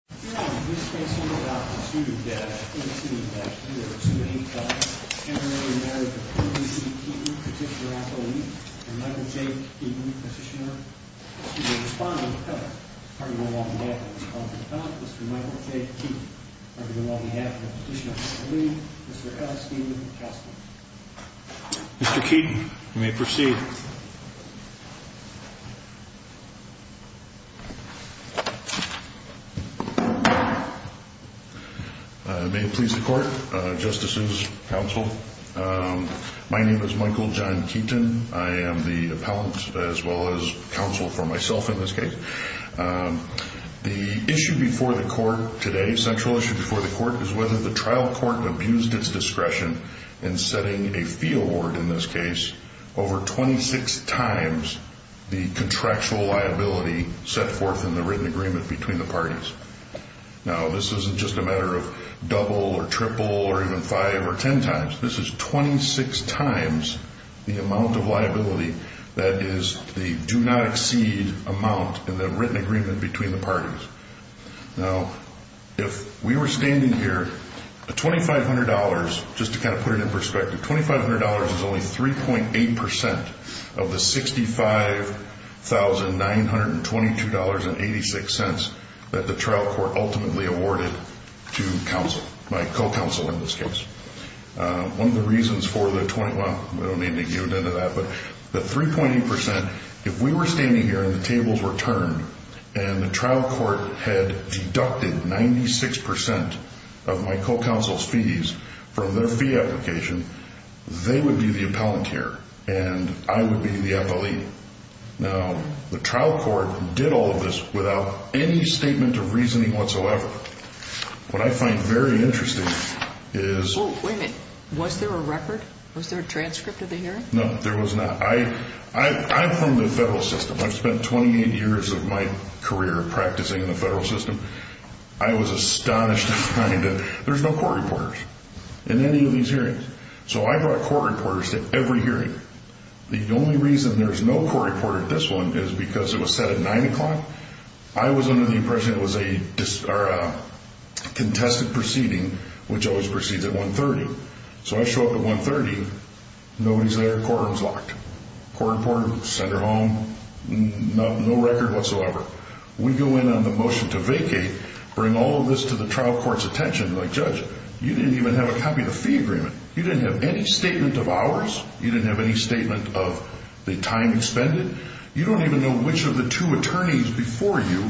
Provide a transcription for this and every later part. Petitioner, Michael J. Keaton, Petitioner, Mr. Michael J. Keaton, on behalf of the Petitioner, Mr. S. Steven Kessler. Mr. Keaton, you may proceed. May it please the court, justices, counsel. My name is Michael John Keaton. I am the appellant as well as counsel for myself in this case. The issue before the court today, central issue before the court, is whether the trial court abused its discretion in setting a fee award in this case over 26 times the contractual liability set forth in the written agreement between the parties. Now, this isn't just a matter of double or triple or even five or ten times. This is 26 times the amount of liability that is the do not exceed amount in the written agreement between the parties. Now, if we were standing here, $2,500, just to kind of put it in perspective, $2,500 is only 3.8% of the $65,922.86 that the trial court ultimately awarded to counsel, my co-counsel in this case. One of the reasons for the, well, we don't need to get into that, but the 3.8%, if we were standing here and the tables were turned and the trial court had deducted 96% of my co-counsel's fees from their fee application, they would be the appellant here and I would be the appellee. Now, the trial court did all of this without any statement of reasoning whatsoever. What I find very interesting is... Oh, wait a minute. Was there a record? Was there a transcript of the hearing? No, there was not. I'm from the federal system. I've spent 28 years of my career practicing in the federal system. I was astonished at the kind of, there's no court reporters in any of these hearings. So I brought court reporters to every hearing. The only reason there's no court reporter at this one is because it was set at 9 o'clock. I was under the impression it was a contested proceeding, which always proceeds at 1.30. So I show up at 1.30, nobody's there, courtroom's locked. Court reporter, send her home, no record whatsoever. We go in on the motion to vacate, bring all of this to the trial court's attention, like, judge, you didn't even have a copy of the fee agreement. You didn't have any statement of hours. You didn't have any statement of the time expended. You don't even know which of the two attorneys before you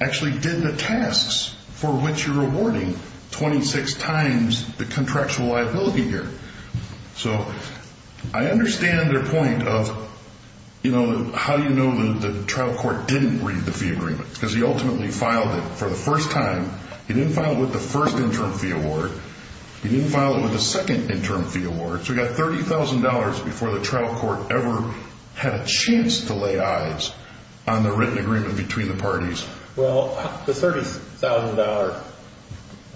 actually did the tasks for which you're awarding 26 times the contractual liability here. So I understand their point of, you know, how do you know the trial court didn't read the fee agreement? Because he ultimately filed it for the first time. He didn't file it with the first interim fee award. He didn't file it with the second interim fee award. So he got $30,000 before the trial court ever had a chance to lay eyes on the written agreement between the parties. Well, the $30,000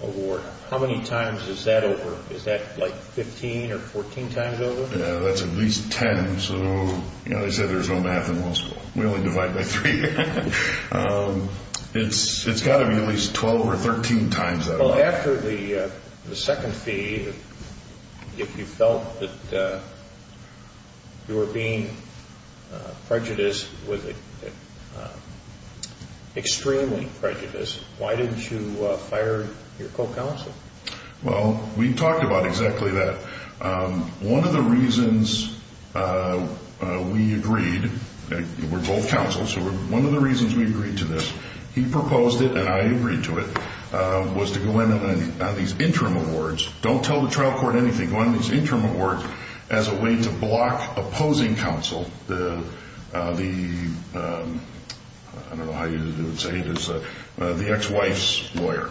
award, how many times is that over? Is that, like, 15 or 14 times over? That's at least 10. So, you know, they say there's no math in law school. We only divide by three. It's got to be at least 12 or 13 times that over. Well, after the second fee, if you felt that you were being prejudiced, extremely prejudiced, why didn't you fire your co-counsel? Well, we talked about exactly that. One of the reasons we agreed, we're both counsels, one of the reasons we agreed to this, he proposed it and I agreed to it, was to go in on these interim awards. Don't tell the trial court anything. Go in on these interim awards as a way to block opposing counsel, the, I don't know how you would say it, the ex-wife's lawyer,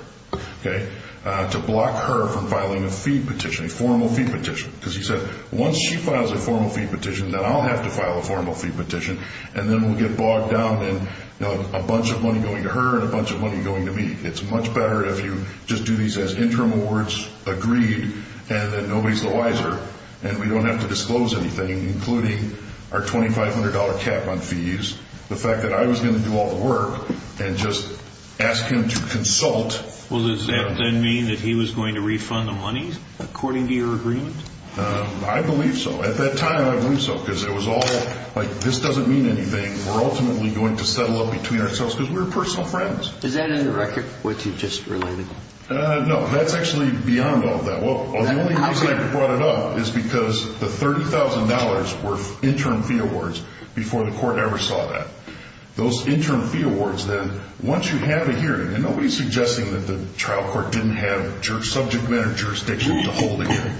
okay, to block her from filing a fee petition, a formal fee petition. Because he said, once she files a formal fee petition, then I'll have to file a formal fee petition, and then we'll get bogged down in a bunch of money going to her and a bunch of money going to me. It's much better if you just do these as interim awards agreed and that nobody's the wiser, and we don't have to disclose anything, including our $2,500 cap on fees, the fact that I was going to do all the work and just ask him to consult. Well, does that then mean that he was going to refund the money according to your agreement? I believe so. At that time, I believe so, because it was all, like, this doesn't mean anything. We're ultimately going to settle up between ourselves because we're personal friends. Is that in the record, what you just related? No, that's actually beyond all that. Well, the only reason I brought it up is because the $30,000 were interim fee awards before the court ever saw that. Those interim fee awards, then, once you have a hearing, and nobody's suggesting that the trial court didn't have subject matter jurisdictions to hold a hearing.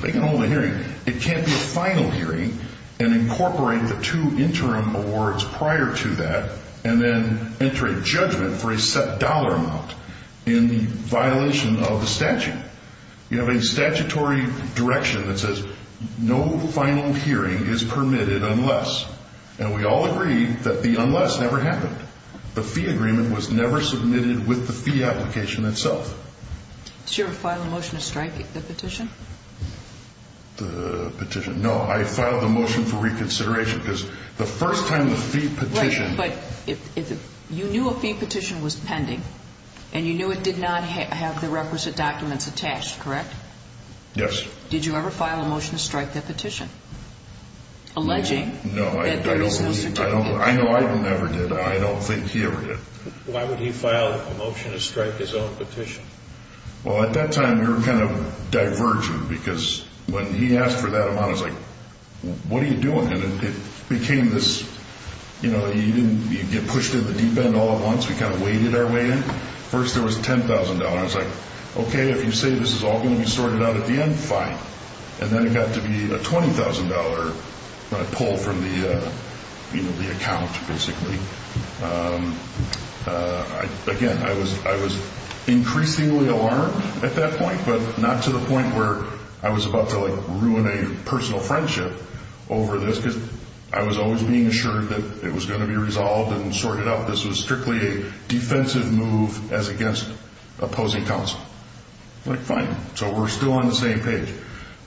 They can hold a hearing. It can't be a final hearing and incorporate the two interim awards prior to that and then enter a judgment for a set dollar amount in violation of the statute. You have a statutory direction that says no final hearing is permitted unless, and we all agree that the unless never happened. The fee agreement was never submitted with the fee application itself. Did you ever file a motion to strike the petition? The petition? No, I filed the motion for reconsideration because the first time the fee petition. Right, but you knew a fee petition was pending, and you knew it did not have the requisite documents attached, correct? Yes. Did you ever file a motion to strike that petition, alleging? No, I don't believe, I know I never did. I don't think he ever did. Why would he file a motion to strike his own petition? Well, at that time, we were kind of diverging because when he asked for that amount, I was like, what are you doing? And it became this, you know, you get pushed to the deep end all at once. We kind of waded our way in. First, there was $10,000. I was like, okay, if you say this is all going to be sorted out at the end, fine. And then it got to be a $20,000 when I pulled from the account, basically. Again, I was increasingly alarmed at that point, but not to the point where I was about to, like, ruin a personal friendship over this because I was always being assured that it was going to be resolved and sorted out. This was strictly a defensive move as against opposing counsel. I was like, fine. So we're still on the same page.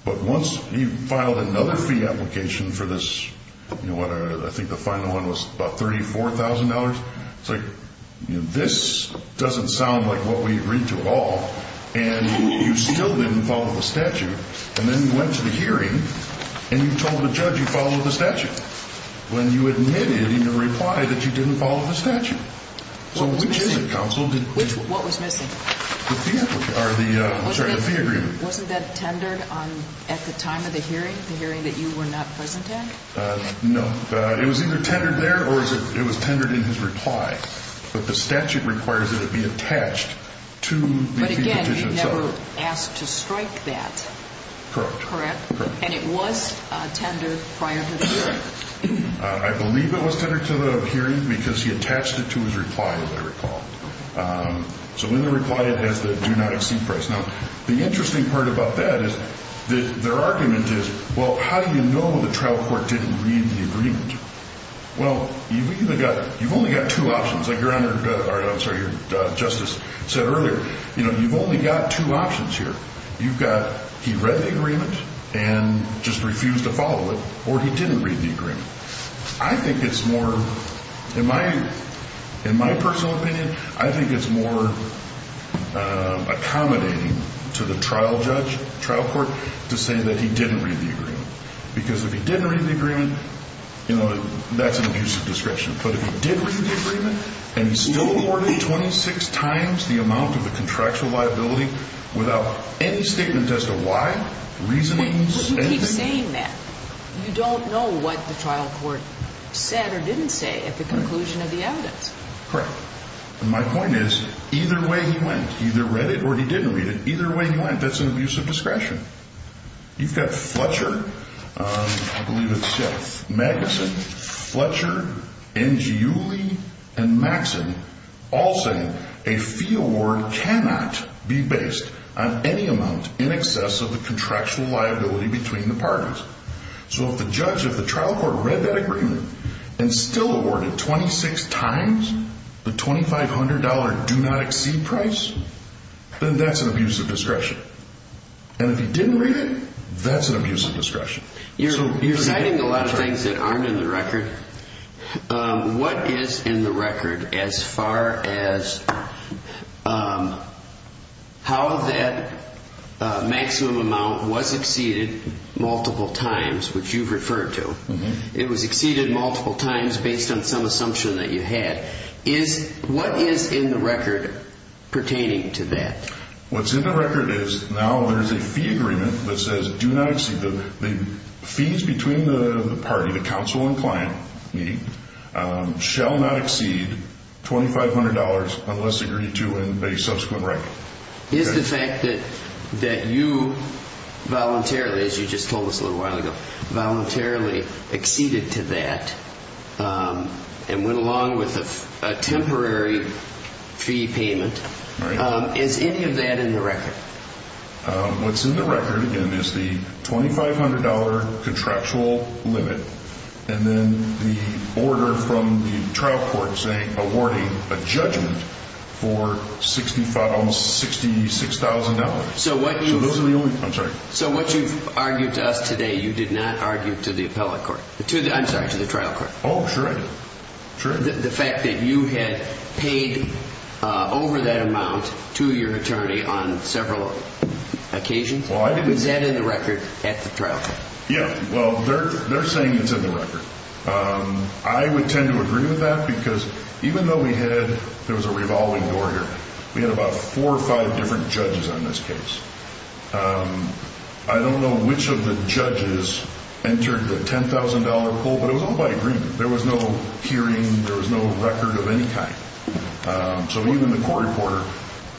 But once he filed another fee application for this, I think the final one was about $34,000. I was like, this doesn't sound like what we agreed to at all, and you still didn't follow the statute. And then you went to the hearing, and you told the judge you followed the statute when you admitted in your reply that you didn't follow the statute. So which is it, counsel? What was missing? The fee agreement. Wasn't that tendered at the time of the hearing, the hearing that you were not present at? No. It was either tendered there or it was tendered in his reply. But the statute requires that it be attached to the fee petition itself. But again, you never asked to strike that. Correct. And it was tendered prior to the hearing. I believe it was tendered to the hearing because he attached it to his reply, as I recall. So in the reply, it has the do not exceed price. Now, the interesting part about that is their argument is, well, how do you know the trial court didn't read the agreement? Well, you've only got two options. Like your Honor, I'm sorry, your Justice said earlier, you've only got two options here. You've got he read the agreement and just refused to follow it, or he didn't read the agreement. I think it's more, in my personal opinion, I think it's more accommodating to the trial judge, trial court, to say that he didn't read the agreement. Because if he didn't read the agreement, you know, that's an abusive discretion. But if he did read the agreement and he still awarded 26 times the amount of the contractual liability without any statement as to why, reasonings, anything. You don't know what the trial court said or didn't say at the conclusion of the evidence. Correct. And my point is, either way he went, he either read it or he didn't read it. Either way he went, that's an abusive discretion. You've got Fletcher, I believe it's, yes, Maguson, Fletcher, Engiuli, and Maxson, all saying a fee award cannot be based on any amount in excess of the contractual liability between the parties. So if the judge, if the trial court read that agreement and still awarded 26 times the $2,500 do not exceed price, then that's an abusive discretion. And if he didn't read it, that's an abusive discretion. You're citing a lot of things that aren't in the record. What is in the record as far as how that maximum amount was exceeded multiple times, which you've referred to? It was exceeded multiple times based on some assumption that you had. What is in the record pertaining to that? What's in the record is now there's a fee agreement that says do not exceed, the fees between the party, the counsel and client, meaning, shall not exceed $2,500 unless agreed to in a subsequent record. Is the fact that you voluntarily, as you just told us a little while ago, voluntarily exceeded to that and went along with a temporary fee payment, is any of that in the record? What's in the record, again, is the $2,500 contractual limit and then the order from the trial court saying, awarding a judgment for $65,000, $66,000. So what you've argued to us today, you did not argue to the appellate court. I'm sorry, to the trial court. Oh, sure I did. The fact that you had paid over that amount to your attorney on several occasions, is that in the record at the trial court? Yeah, well, they're saying it's in the record. I would tend to agree with that because even though we had, there was a revolving door here, we had about four or five different judges on this case. I don't know which of the judges entered the $10,000 pool, but it was all by agreement. There was no hearing, there was no record of any kind. So even the court reporter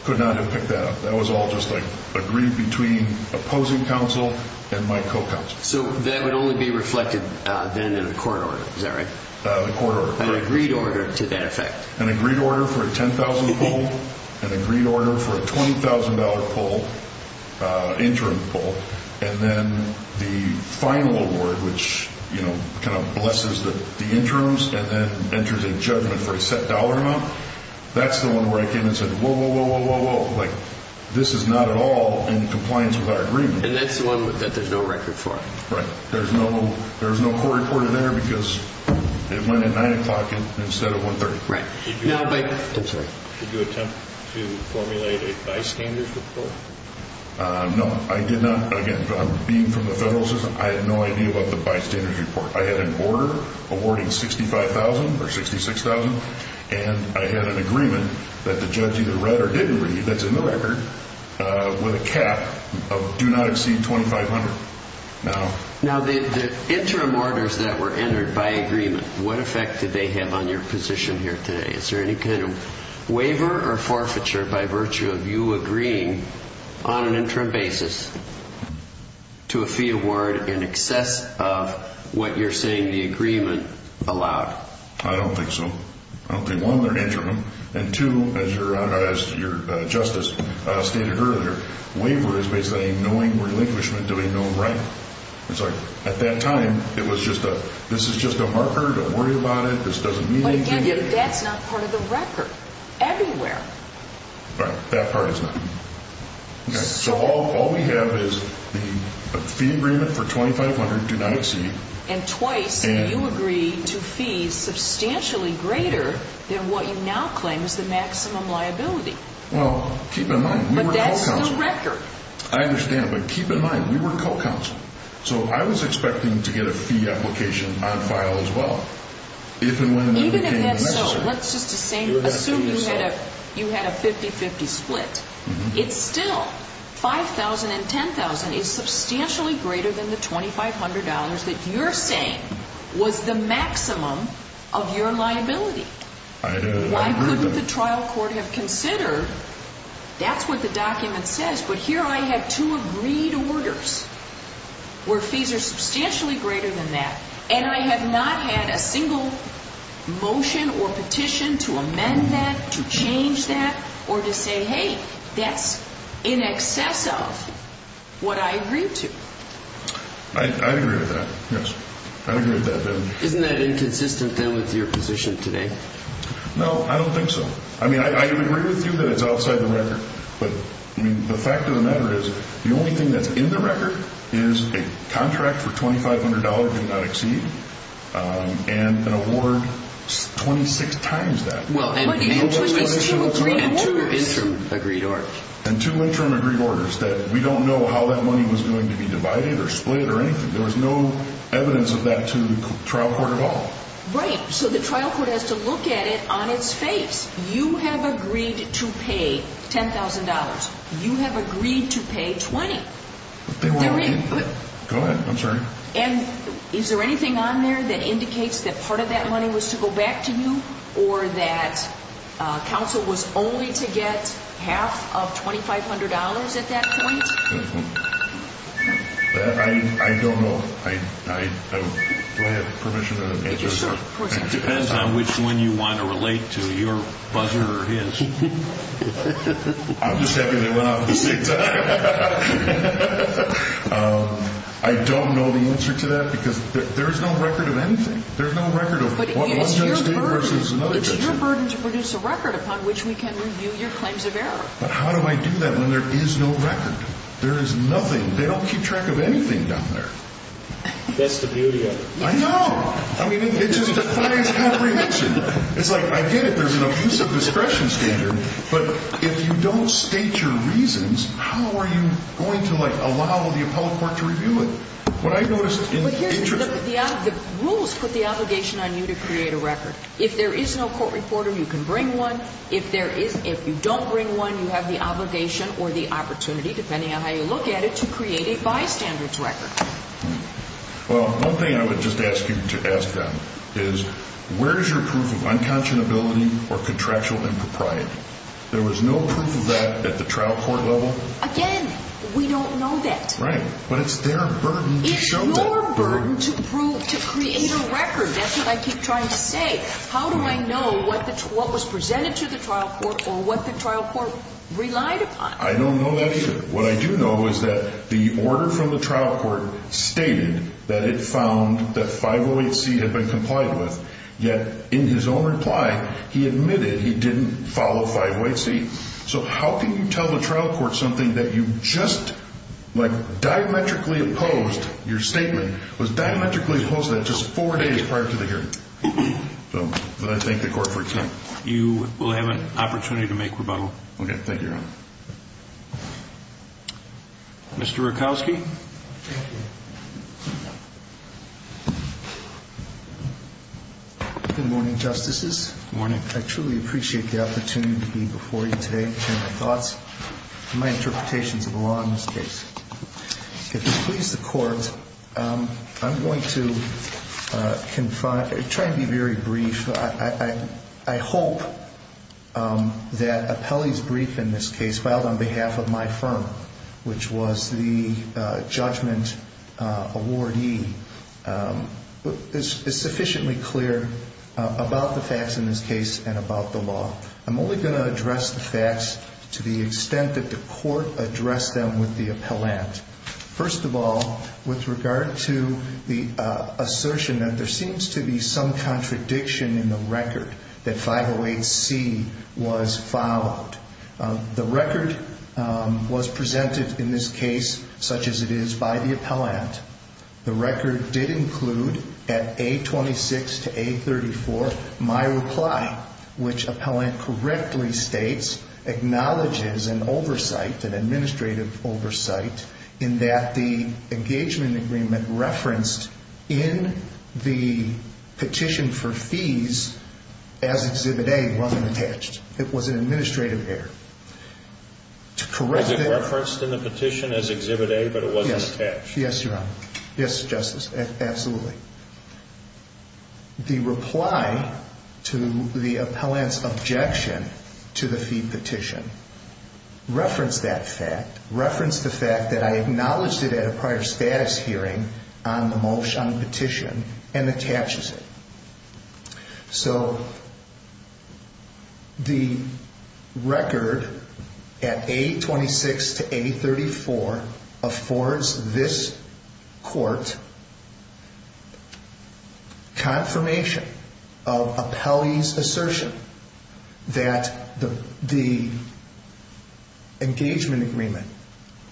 could not have picked that up. That was all just like agreed between opposing counsel and my co-counsel. So that would only be reflected then in a court order, is that right? The court order. An agreed order to that effect. An agreed order for a $10,000 pool, an agreed order for a $20,000 pool, interim pool, and then the final award, which kind of blesses the interims and then enters a judgment for a set dollar amount, that's the one where I came in and said, whoa, whoa, whoa, whoa, whoa, whoa. This is not at all in compliance with our agreement. And that's the one that there's no record for. Right. There's no court reporter there because it went at 9 o'clock instead of 1.30. Right. Did you attempt to formulate a bystander's report? No, I did not. Again, being from the federal system, I had no idea about the bystander's report. I had an order awarding $65,000 or $66,000, and I had an agreement that the judge either read or didn't read that's in the record with a cap of do not exceed $2,500. Now, the interim orders that were entered by agreement, what effect did they have on your position here today? Is there any kind of waiver or forfeiture by virtue of you agreeing on an interim basis to a fee award in excess of what you're saying the agreement allowed? I don't think so. I don't think one, they're interim, and two, as your justice stated earlier, waiver is basically knowing relinquishment to a known right. It's like at that time, it was just a, this is just a marker, don't worry about it, this doesn't mean anything. Again, that's not part of the record everywhere. Right, that part is not. So all we have is the fee agreement for $2,500, do not exceed. And twice you agreed to fees substantially greater than what you now claim is the maximum liability. Well, keep in mind, we were co-counsel. But that's in the record. I understand, but keep in mind, we were co-counsel. So I was expecting to get a fee application on file as well. Even if that's so, let's just assume you had a 50-50 split. It's still $5,000 and $10,000 is substantially greater than the $2,500 that you're saying was the maximum of your liability. I agree with that. Why couldn't the trial court have considered, that's what the document says, but here I had two agreed orders where fees are substantially greater than that, and I have not had a single motion or petition to amend that, to change that, or to say, hey, that's in excess of what I agreed to. I agree with that, yes. I agree with that. Isn't that inconsistent then with your position today? No, I don't think so. But the fact of the matter is, the only thing that's in the record is a contract for $2,500 did not exceed and an award 26 times that. And two interim agreed orders. And two interim agreed orders that we don't know how that money was going to be divided or split or anything. There was no evidence of that to the trial court at all. Right, so the trial court has to look at it on its face. You have agreed to pay $10,000. You have agreed to pay $20,000. Go ahead, I'm sorry. And is there anything on there that indicates that part of that money was to go back to you or that counsel was only to get half of $2,500 at that point? I don't know. Do I have permission to answer? Yes, sir. It depends on which one you want to relate to, your buzzer or his. I'm just happy they went off at the same time. I don't know the answer to that because there is no record of anything. There's no record of what one judge did versus another judge did. But it's your burden to produce a record upon which we can review your claims of error. But how do I do that when there is no record? There is nothing. They don't keep track of anything down there. That's the beauty of it. I know. I mean, it just defies every reason. It's like, I get it, there's an abuse of discretion standard, but if you don't state your reasons, how are you going to, like, allow the appellate court to review it? What I noticed in the interest of... The rules put the obligation on you to create a record. If there is no court reporter, you can bring one. If you don't bring one, you have the obligation or the opportunity, depending on how you look at it, to create a bystander's record. Well, one thing I would just ask you to ask them is, where is your proof of unconscionability or contractual impropriety? There was no proof of that at the trial court level. Again, we don't know that. Right. But it's their burden to show that burden. It's your burden to create a record. That's what I keep trying to say. How do I know what was presented to the trial court or what the trial court relied upon? I don't know that either. What I do know is that the order from the trial court stated that it found that 508C had been complied with, yet in his own reply, he admitted he didn't follow 508C. So how can you tell the trial court something that you just, like, diametrically opposed your statement, was diametrically opposed to that just four days prior to the hearing? So I thank the court for its time. You will have an opportunity to make rebuttal. Okay. Thank you, Your Honor. Mr. Rakowski. Thank you. Good morning, Justices. Good morning. I truly appreciate the opportunity to be before you today to share my thoughts and my interpretations of the law in this case. If it pleases the Court, I'm going to try and be very brief. I hope that Appelli's brief in this case, filed on behalf of my firm, which was the judgment awardee, is sufficiently clear about the facts in this case and about the law. I'm only going to address the facts to the extent that the Court addressed them with the appellant. First of all, with regard to the assertion that there seems to be some contradiction in the record that 508C was followed. The record was presented in this case, such as it is, by the appellant. The record did include, at A26 to A34, my reply, which appellant correctly states acknowledges an oversight, an administrative oversight, in that the engagement agreement referenced in the petition for fees as Exhibit A wasn't attached. It was an administrative error. Was it referenced in the petition as Exhibit A, but it wasn't attached? Yes, Your Honor. Yes, Justice, absolutely. The reply to the appellant's objection to the fee petition referenced that fact, that I acknowledged it at a prior status hearing on the motion, on the petition, and attaches it. So the record at A26 to A34 affords this Court confirmation of appellee's assertion that the engagement agreement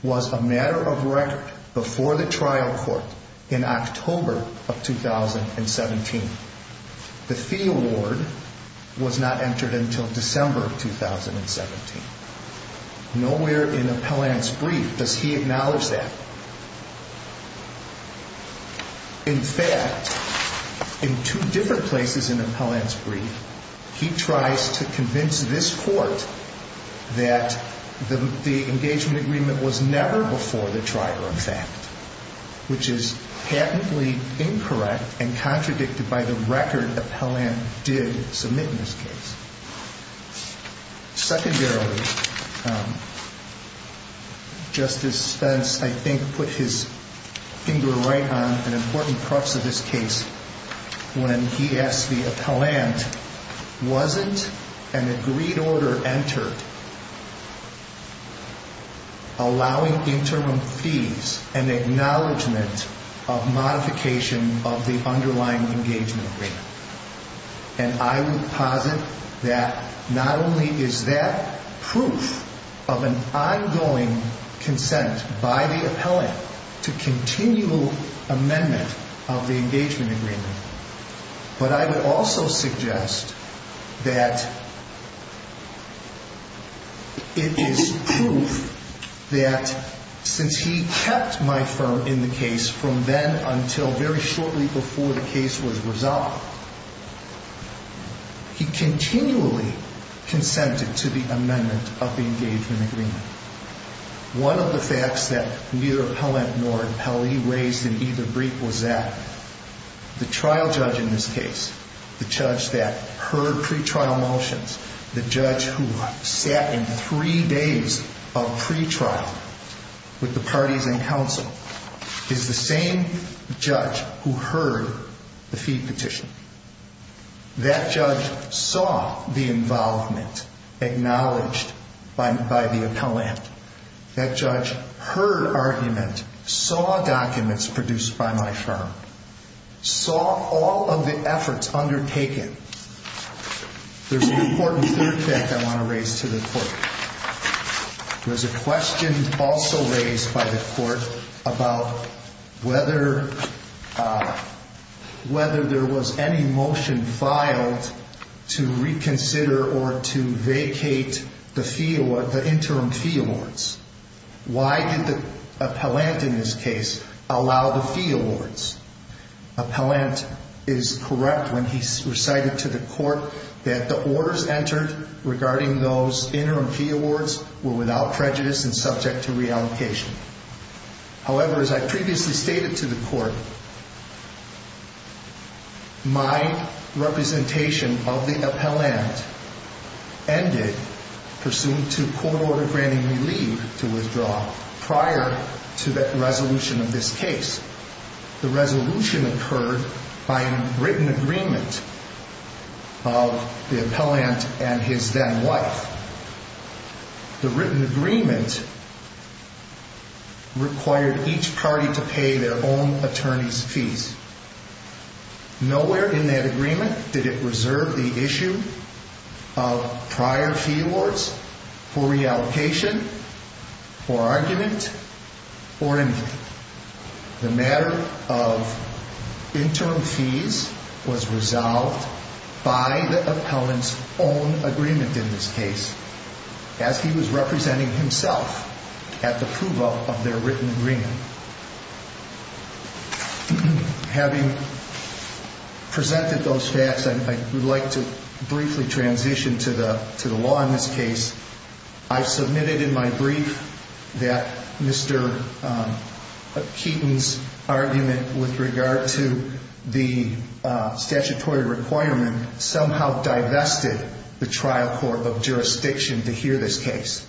was a matter of record before the trial court in October of 2017. The fee award was not entered until December of 2017. Nowhere in appellant's brief does he acknowledge that. In fact, in two different places in appellant's brief, he tries to convince this Court that the engagement agreement was never before the trial, in fact, which is patently incorrect and contradicted by the record appellant did submit in this case. Secondarily, Justice Spence, I think, put his finger right on an important part of this case when he asked the appellant, wasn't an agreed order entered allowing interim fees and acknowledgment of modification of the underlying engagement agreement? And I would posit that not only is that proof of an ongoing consent by the appellant to continual amendment of the engagement agreement, but I would also suggest that it is proof that since he kept my firm in the case from then until very shortly before the case was resolved, he continually consented to the amendment of the engagement agreement. One of the facts that neither appellant nor appellee raised in either brief was that the trial judge in this case, the judge that heard pretrial motions, the judge who sat in three days of pretrial with the parties in council, is the same judge who heard the fee petition. That judge saw the involvement acknowledged by the appellant. That judge heard argument, saw documents produced by my firm, saw all of the efforts undertaken. There's an important third fact I want to raise to the court. There's a question also raised by the court about whether there was any motion filed to reconsider or to vacate the interim fee awards. Why did the appellant in this case allow the fee awards? Appellant is correct when he recited to the court that the orders entered regarding those interim fee awards were without prejudice and subject to reallocation. However, as I previously stated to the court, my representation of the appellant ended pursuant to court order granting me leave to withdraw prior to the resolution of this case. The resolution occurred by a written agreement of the appellant and his then wife. The written agreement required each party to pay their own attorney's fees. Nowhere in that agreement did it reserve the issue of prior fee awards for reallocation, for argument, or anything. The matter of interim fees was resolved by the appellant's own agreement in this case as he was representing himself at the approval of their written agreement. Having presented those facts, I would like to briefly transition to the law in this case. I submitted in my brief that Mr. Keaton's argument with regard to the statutory requirement somehow divested the trial court of jurisdiction to hear this case,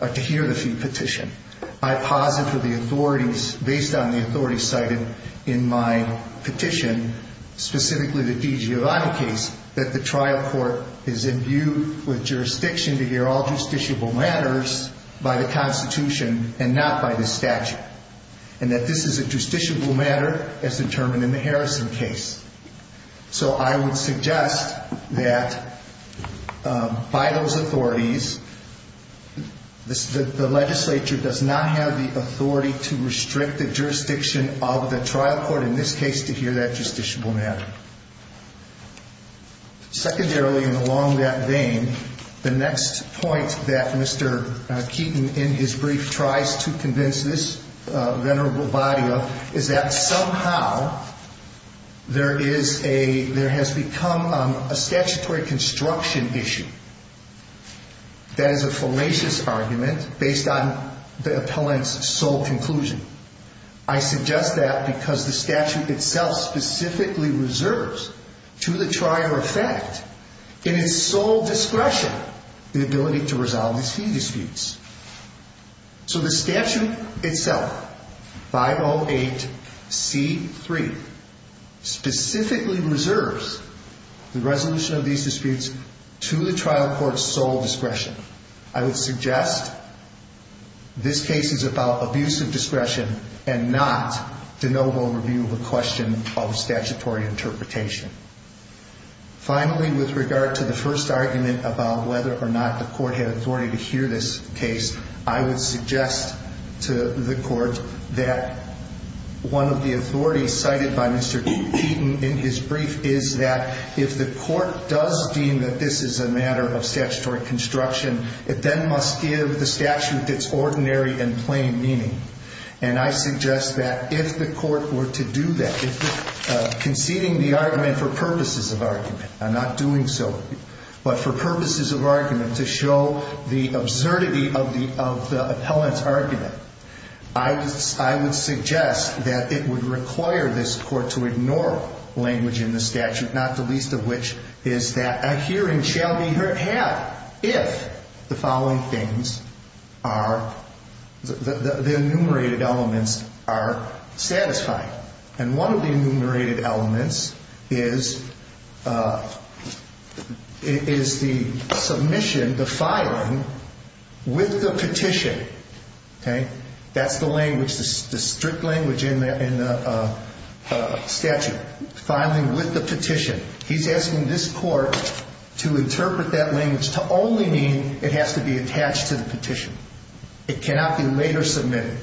to hear the fee petition. I posit for the authorities, based on the authorities cited in my petition, specifically the DiGiovanni case, that the trial court is imbued with jurisdiction to hear all justiciable matters by the Constitution and not by the statute, and that this is a justiciable matter as determined in the Harrison case. So I would suggest that, by those authorities, the legislature does not have the authority to restrict the jurisdiction of the trial court, in this case, to hear that justiciable matter. Secondarily, and along that vein, the next point that Mr. Keaton, in his brief, tries to convince this venerable body of is that somehow there has become a statutory construction issue that is a fallacious argument based on the appellant's sole conclusion. I suggest that because the statute itself specifically reserves, to the trier effect, in his sole discretion, the ability to resolve these fee disputes. So the statute itself, 508C3, specifically reserves the resolution of these disputes to the trial court's sole discretion. I would suggest this case is about abuse of discretion and not the noble review of a question of statutory interpretation. Finally, with regard to the first argument about whether or not the court had authority to hear this case, I would suggest to the court that one of the authorities cited by Mr. Keaton in his brief is that if the court does deem that this is a matter of statutory construction, it then must give the statute its ordinary and plain meaning. And I suggest that if the court were to do that, conceding the argument for purposes of argument, not doing so, but for purposes of argument, to show the absurdity of the appellant's argument, I would suggest that it would require this court to ignore language in the statute, not the least of which is that a hearing shall be had if the following things are, the enumerated elements are satisfied. And one of the enumerated elements is the submission, the filing, with the petition. That's the language, the strict language in the statute. Filing with the petition. He's asking this court to interpret that language to only mean it has to be attached to the petition. It cannot be later submitted.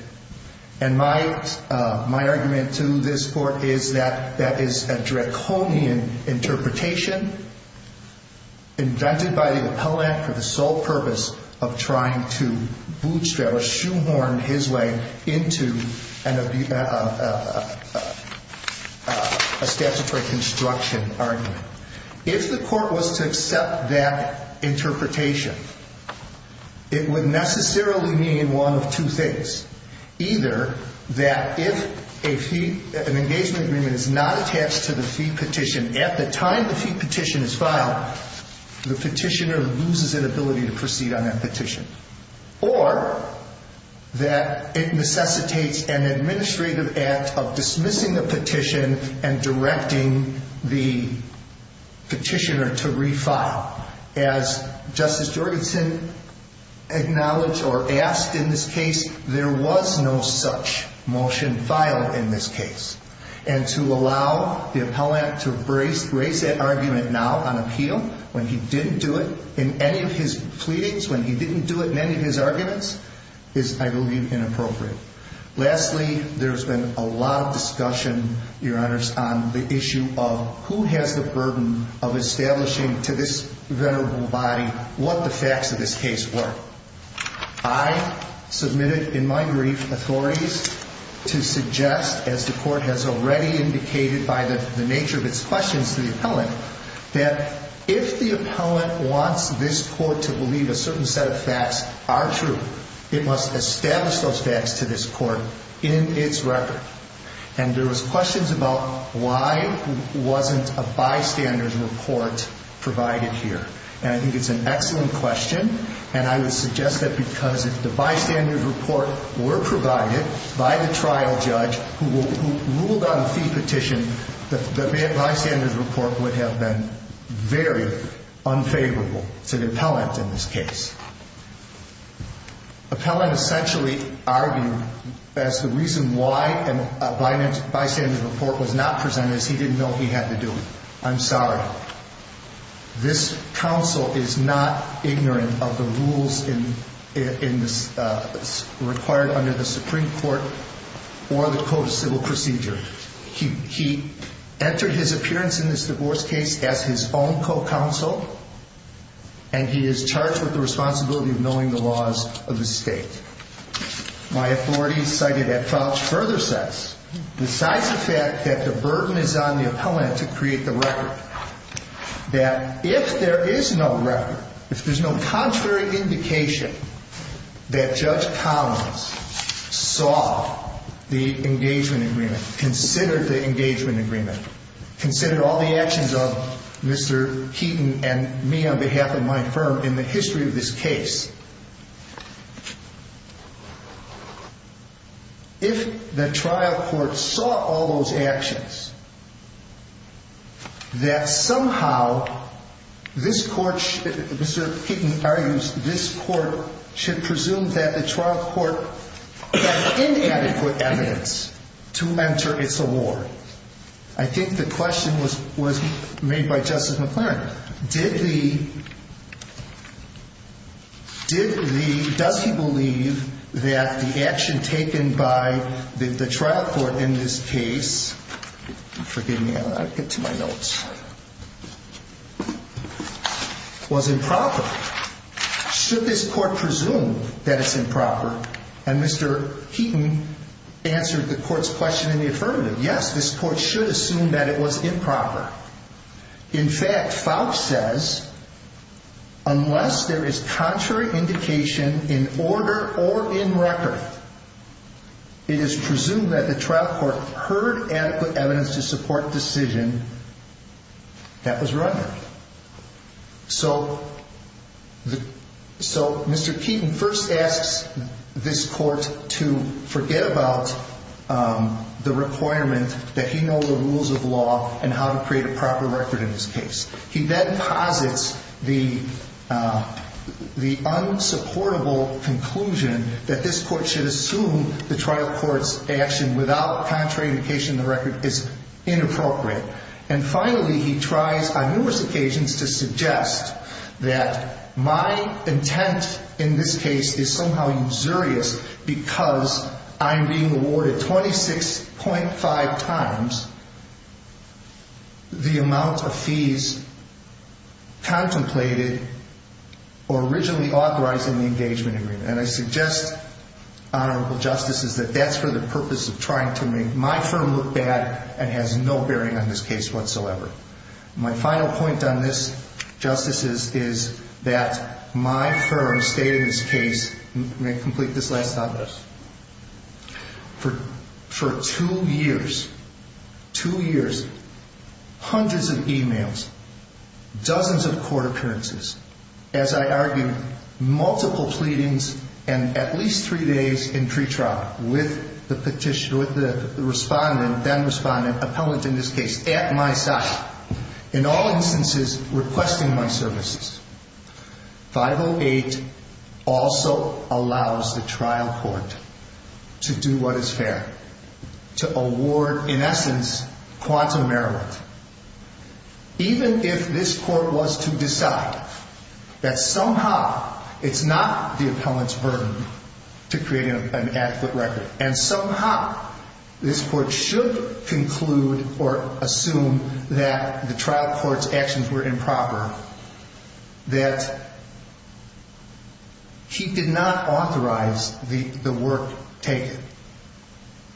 And my argument to this court is that that is a draconian interpretation invented by the appellant for the sole purpose of trying to bootstrap or shoehorn his way into a statutory construction argument. If the court was to accept that interpretation, it would necessarily mean one of two things. Either that if a fee, an engagement agreement is not attached to the fee petition, at the time the fee petition is filed, the petitioner loses an ability to proceed on that petition. Or that it necessitates an administrative act of dismissing the petition and directing the petitioner to refile. As Justice Jorgensen acknowledged or asked in this case, there was no such motion filed in this case. And to allow the appellant to raise that argument now on appeal when he didn't do it, in any of his pleadings, when he didn't do it in any of his arguments, is, I believe, inappropriate. Lastly, there has been a lot of discussion, Your Honors, on the issue of who has the burden of establishing to this venerable body what the facts of this case were. I submitted in my brief authorities to suggest, as the court has already indicated by the nature of its questions to the appellant, that if the appellant wants this court to believe a certain set of facts are true, it must establish those facts to this court in its record. And there was questions about why wasn't a bystander's report provided here. And I think it's an excellent question. And I would suggest that because if the bystander's report were provided by the trial judge who ruled on a fee petition, the bystander's report would have been very unfavorable to the appellant in this case. Appellant essentially argued that the reason why a bystander's report was not presented is he didn't know he had to do it. I'm sorry. This counsel is not ignorant of the rules required under the Supreme Court or the Code of Civil Procedure. He entered his appearance in this divorce case as his own co-counsel, and he is charged with the responsibility of knowing the laws of the state. My authority cited at faux further sense, besides the fact that the burden is on the appellant to create the record, that if there is no record, if there's no contrary indication that Judge Collins saw the engagement agreement, considered the engagement agreement, considered all the actions of Mr. Keeton and me on behalf of my firm in the history of this case, if the trial court saw all those actions, that somehow this court, Mr. Keeton argues, this court should presume that the trial court had inadequate evidence to mentor its award. I think the question was made by Justice McClaren. Did the, does he believe that the action taken by the trial court in this case, forgive me, I've got to get to my notes, was improper? Should this court presume that it's improper? And Mr. Keeton answered the court's question in the affirmative. Yes, this court should assume that it was improper. In fact, faux says, unless there is contrary indication in order or in record, it is presumed that the trial court heard adequate evidence to support decision that was run. So Mr. Keeton first asks this court to forget about the requirement that he knows the rules of law and how to create a proper record in this case. He then posits the unsupportable conclusion that this court should assume the trial court's action without contrary indication in the record is inappropriate. And finally, he tries on numerous occasions to suggest that my intent in this case is somehow insidious because I'm being awarded 26.5 times the amount of fees contemplated or originally authorized in the engagement agreement. And I suggest, Honorable Justices, that that's for the purpose of trying to make my firm look bad and has no bearing on this case whatsoever. My final point on this, Justices, is that my firm stated in this case, let me complete this last sentence, For two years, two years, hundreds of e-mails, dozens of court appearances, as I argued, multiple pleadings, and at least three days in pretrial with the petitioner, with the respondent, then respondent, appellant in this case, at my side, in all instances requesting my services, 508 also allows the trial court to do what is fair, to award, in essence, quantum merit. Even if this court was to decide that somehow it's not the appellant's burden to create an adequate record and somehow this court should conclude or assume that the trial court's actions were improper, that he did not authorize the work taken.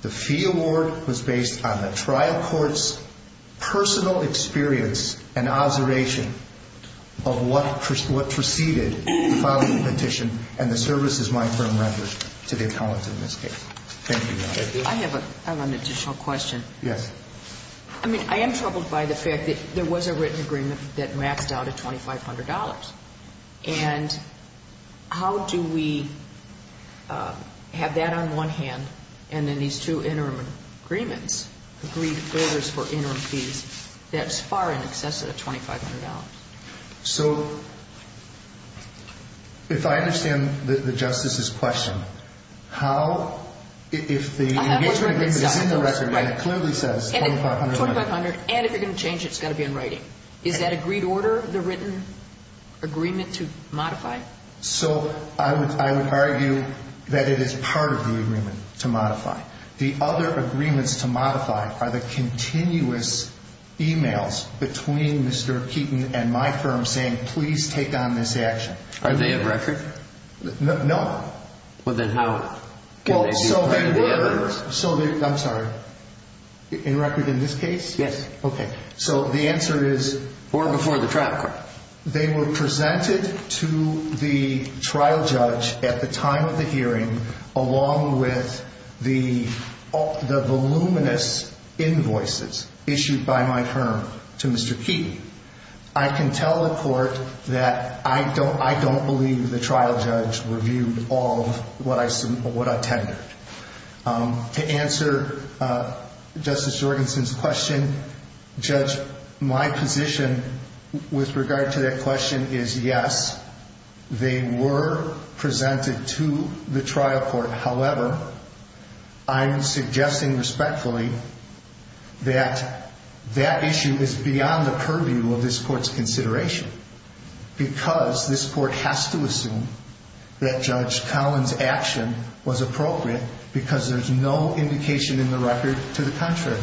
The fee award was based on the trial court's personal experience and observation of what preceded the filing of the petition and the services my firm rendered to the appellant in this case. Thank you, Your Honor. I have an additional question. Yes. I mean, I am troubled by the fact that there was a written agreement that maxed out at $2,500. And how do we have that on one hand and then these two interim agreements, three folders for interim fees, that's far in excess of the $2,500? So if I understand the Justice's question, how, if the interim agreement is in the record and it clearly says $2,500. $2,500, and if you're going to change it, it's got to be in writing. Is that agreed order, the written agreement to modify? So I would argue that it is part of the agreement to modify. The other agreements to modify are the continuous e-mails between Mr. Keaton and my firm saying, please take on this action. Are they in record? No. Well, then how? So they were, I'm sorry, in record in this case? Yes. Okay. So the answer is? Or before the trial court. They were presented to the trial judge at the time of the hearing, along with the voluminous invoices issued by my firm to Mr. Keaton. I can tell the court that I don't believe the trial judge reviewed all of what I tendered. To answer Justice Jorgensen's question, Judge, my position with regard to that question is yes, they were presented to the trial court. However, I'm suggesting respectfully that that issue is beyond the purview of this court's consideration. Because this court has to assume that Judge Collins' action was appropriate because there's no indication in the record to the contrary.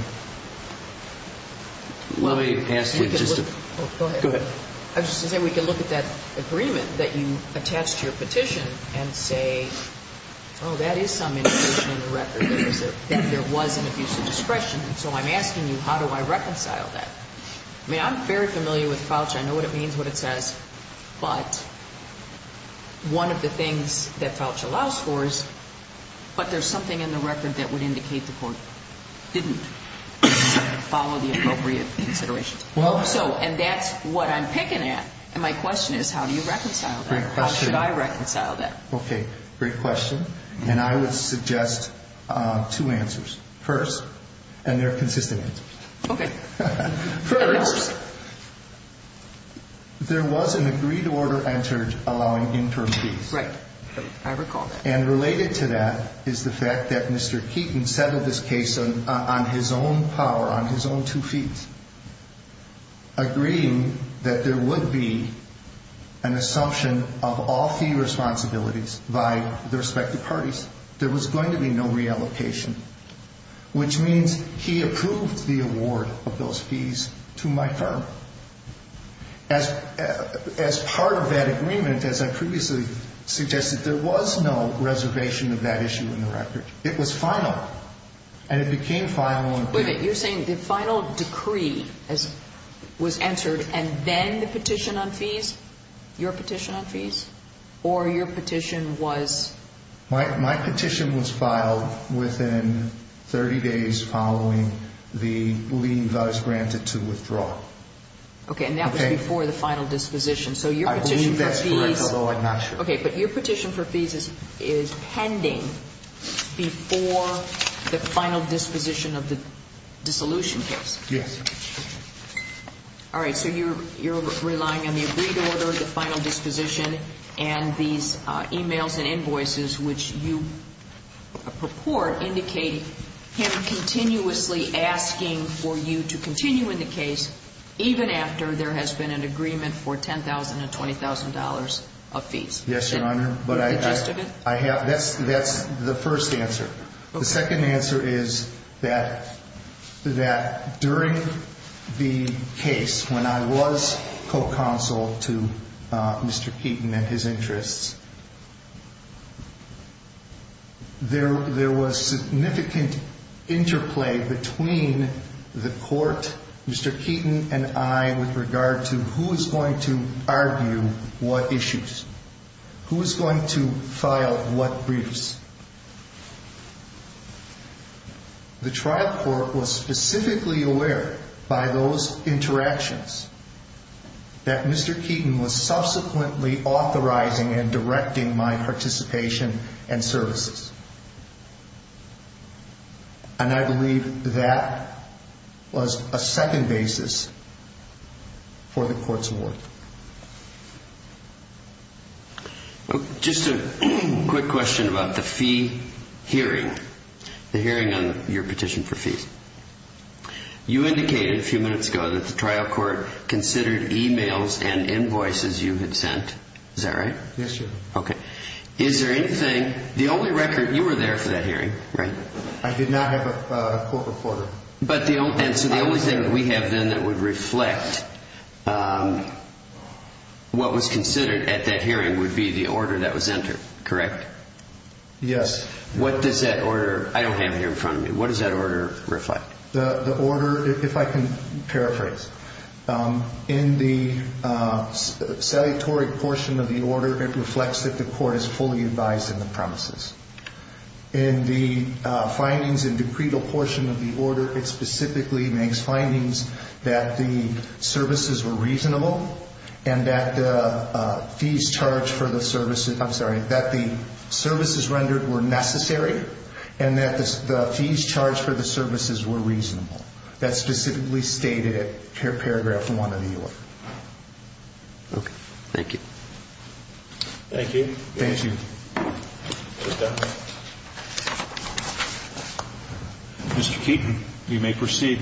Let me ask you just to go ahead. I was just going to say, we can look at that agreement that you attached to your petition and say, oh, that is some indication in the record that there was an abuse of discretion. And so I'm asking you, how do I reconcile that? I mean, I'm very familiar with FOUCH. I know what it means, what it says. But one of the things that FOUCH allows for is, but there's something in the record that would indicate the court didn't. Follow the appropriate considerations. And that's what I'm picking at. And my question is, how do you reconcile that? How should I reconcile that? Okay. Great question. And I would suggest two answers. First, and they're consistent answers. Okay. First, there was an agreed order entered allowing interim fees. Right. I recall that. And related to that is the fact that Mr. Keaton settled this case on his own power, on his own two feet, agreeing that there would be an assumption of all fee responsibilities by the respective parties. There was going to be no reallocation, which means he approved the award of those fees to my firm. As part of that agreement, as I previously suggested, there was no reservation of that issue in the record. It was final. And it became final. Wait a minute. You're saying the final decree was entered and then the petition on fees? Your petition on fees? Or your petition was? My petition was filed within 30 days following the leave I was granted to withdraw. Okay. And that was before the final disposition. I believe that's correct, although I'm not sure. Okay. But your petition for fees is pending before the final disposition of the dissolution case. Yes. All right. So you're relying on the agreed order, the final disposition, and these e-mails and invoices, which you purport indicate him continuously asking for you to continue in the case, even after there has been an agreement for $10,000 and $20,000 of fees. Yes, Your Honor. Is that the gist of it? That's the first answer. The second answer is that during the case, when I was co-counsel to Mr. Keaton and his interests, there was significant interplay between the court, Mr. Keaton and I, with regard to who is going to argue what issues, who is going to file what briefs. The trial court was specifically aware by those interactions that Mr. Keaton was subsequently authorizing and directing my participation and services. And I believe that was a second basis for the court's award. Just a quick question about the fee hearing, the hearing on your petition for fees. You indicated a few minutes ago that the trial court considered e-mails and invoices you had sent. Is that right? Yes, Your Honor. Okay. Is there anything, the only record, you were there for that hearing, right? I did not have a court reporter. So the only thing that we have then that would reflect what was considered at that hearing would be the order that was entered, correct? Yes. What does that order, I don't have it here in front of me, what does that order reflect? The order, if I can paraphrase, in the salutary portion of the order, it reflects that the court is fully advised in the promises. In the findings in the credal portion of the order, it specifically makes findings that the services were reasonable, and that the fees charged for the services, I'm sorry, that the services rendered were necessary, and that the fees charged for the services were reasonable. That's specifically stated in paragraph one of the order. Okay. Thank you. Thank you. Thank you. Okay. Mr. Keeton, you may proceed.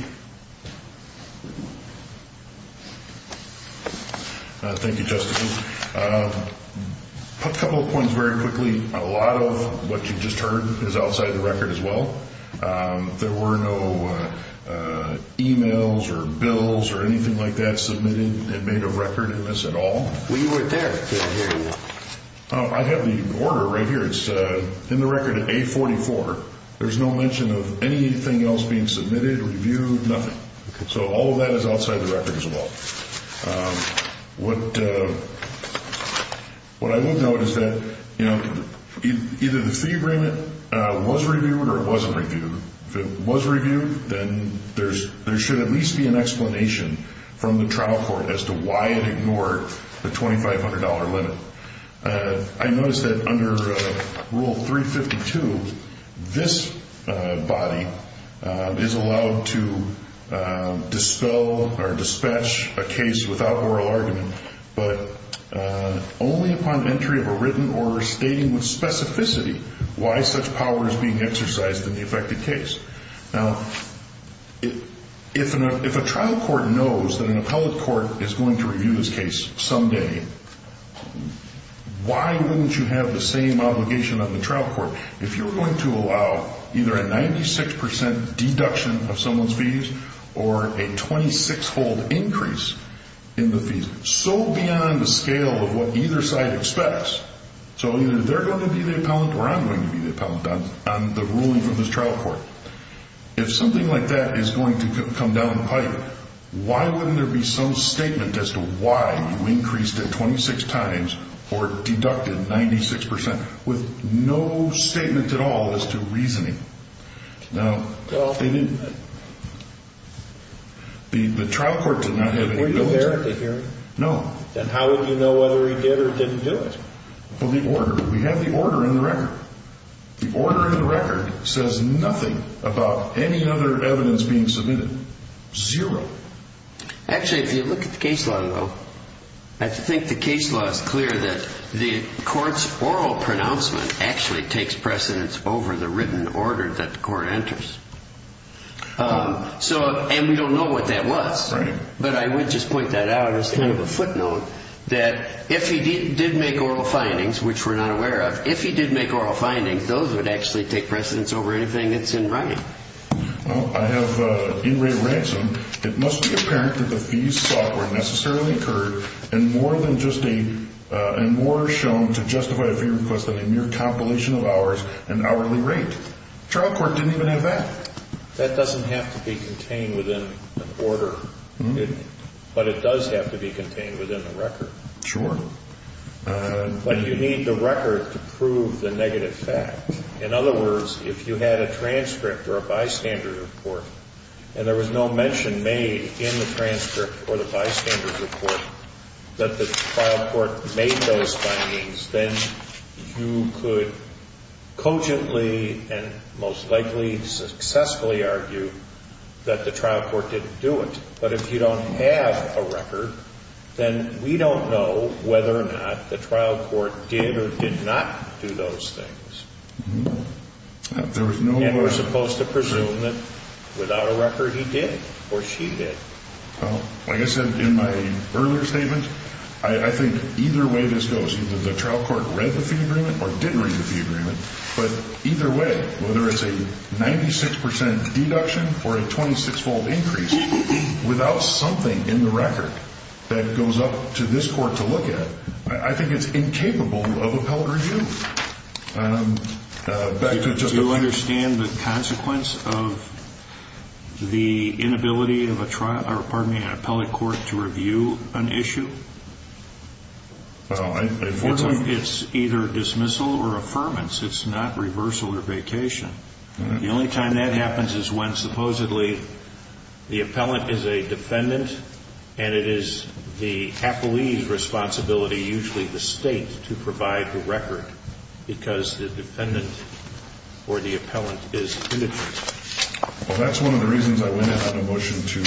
Thank you, Justice. A couple of points very quickly. A lot of what you just heard is outside the record as well. There were no emails or bills or anything like that submitted that made a record of this at all. We were there for the hearing. I have the order right here. It's in the record at 844. There's no mention of anything else being submitted, reviewed, nothing. So all of that is outside the record as well. What I would note is that, you know, either the fee agreement was reviewed or it wasn't reviewed. If it was reviewed, then there should at least be an explanation from the trial court as to why it ignored the $2,500 limit. I notice that under Rule 352, this body is allowed to dispel or dispatch a case without oral argument, but only upon entry of a written order stating with specificity why such power is being exercised in the affected case. Now, if a trial court knows that an appellate court is going to review this case someday, why wouldn't you have the same obligation on the trial court if you're going to allow either a 96% deduction of someone's fees or a 26-fold increase in the fees? So beyond the scale of what either side expects. So either they're going to be the appellate or I'm going to be the appellate on the ruling from this trial court. If something like that is going to come down the pipe, why wouldn't there be some statement as to why you increased it 26 times or deducted 96% with no statement at all as to reasoning? Now, they didn't. The trial court did not have any knowledge. Were you there at the hearing? No. Then how would you know whether he did or didn't do it? Well, the order. We have the order in the record. The order in the record says nothing about any other evidence being submitted. Zero. Actually, if you look at the case law, though, I think the case law is clear that the court's oral pronouncement actually takes precedence over the written order that the court enters. And we don't know what that was. Right. But I would just point that out as kind of a footnote that if he did make oral findings, which we're not aware of, if he did make oral findings, those would actually take precedence over anything that's in writing. Well, I have in Ray Ransom, it must be apparent that the fees software necessarily occurred and more are shown to justify a fee request than a mere compilation of hours and hourly rate. The trial court didn't even have that. That doesn't have to be contained within an order, but it does have to be contained within the record. Sure. But you need the record to prove the negative fact. In other words, if you had a transcript or a bystander report and there was no mention made in the transcript or the bystander report that the trial court made those findings, then you could cogently and most likely successfully argue that the trial court didn't do it. But if you don't have a record, then we don't know whether or not the trial court did or did not do those things. There was no way. And we're supposed to presume that without a record he did or she did. Well, like I said in my earlier statement, I think either way this goes, either the trial court read the fee agreement or didn't read the fee agreement, but either way, whether it's a 96 percent deduction or a 26-fold increase, without something in the record that goes up to this court to look at, I think it's incapable of appellate review. Do you understand the consequence of the inability of an appellate court to review an issue? It's either dismissal or affirmance. It's not reversal or vacation. The only time that happens is when supposedly the appellant is a defendant and it is the appellee's responsibility, usually the state, to provide the record because the defendant or the appellant is indigent. Well, that's one of the reasons I went out on a motion to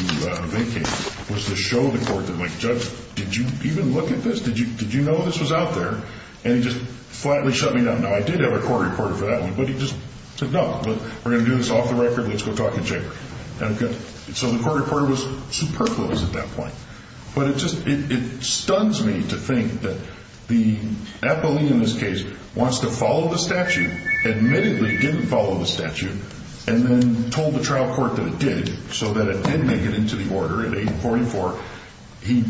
vacate, was to show the court that, like, Judge, did you even look at this? Did you know this was out there? And he just flatly shut me down. Now, I did have a court reporter for that one, but he just said, no, we're going to do this off the record, let's go talk in the chamber. So the court reporter was superfluous at that point. But it just, it stuns me to think that the appellee, in this case, wants to follow the statute, admittedly didn't follow the statute, and then told the trial court that it did so that it didn't make it into the order in 844. He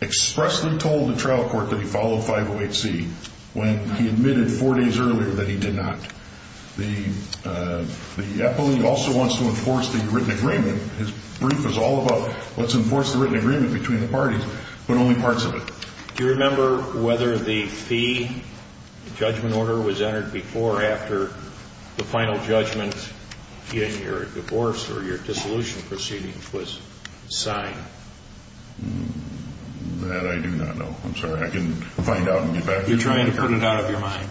expressly told the trial court that he followed 508C when he admitted four days earlier that he did not. The appellee also wants to enforce the written agreement. His brief is all about let's enforce the written agreement between the parties, but only parts of it. Do you remember whether the fee judgment order was entered before or after the final judgment in your divorce or your dissolution proceedings was signed? That I do not know. I'm sorry. I can find out and get back to you. You're trying to put it out of your mind.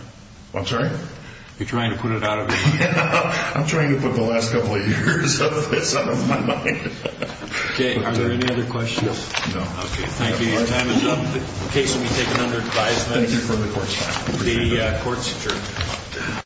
I'm sorry? You're trying to put it out of your mind. I'm trying to put the last couple of years of this out of my mind. Okay. Are there any other questions? No. Okay. Thank you. Your time is up. The case will be taken under advisement. Thank you for the court's time. The court's adjourned.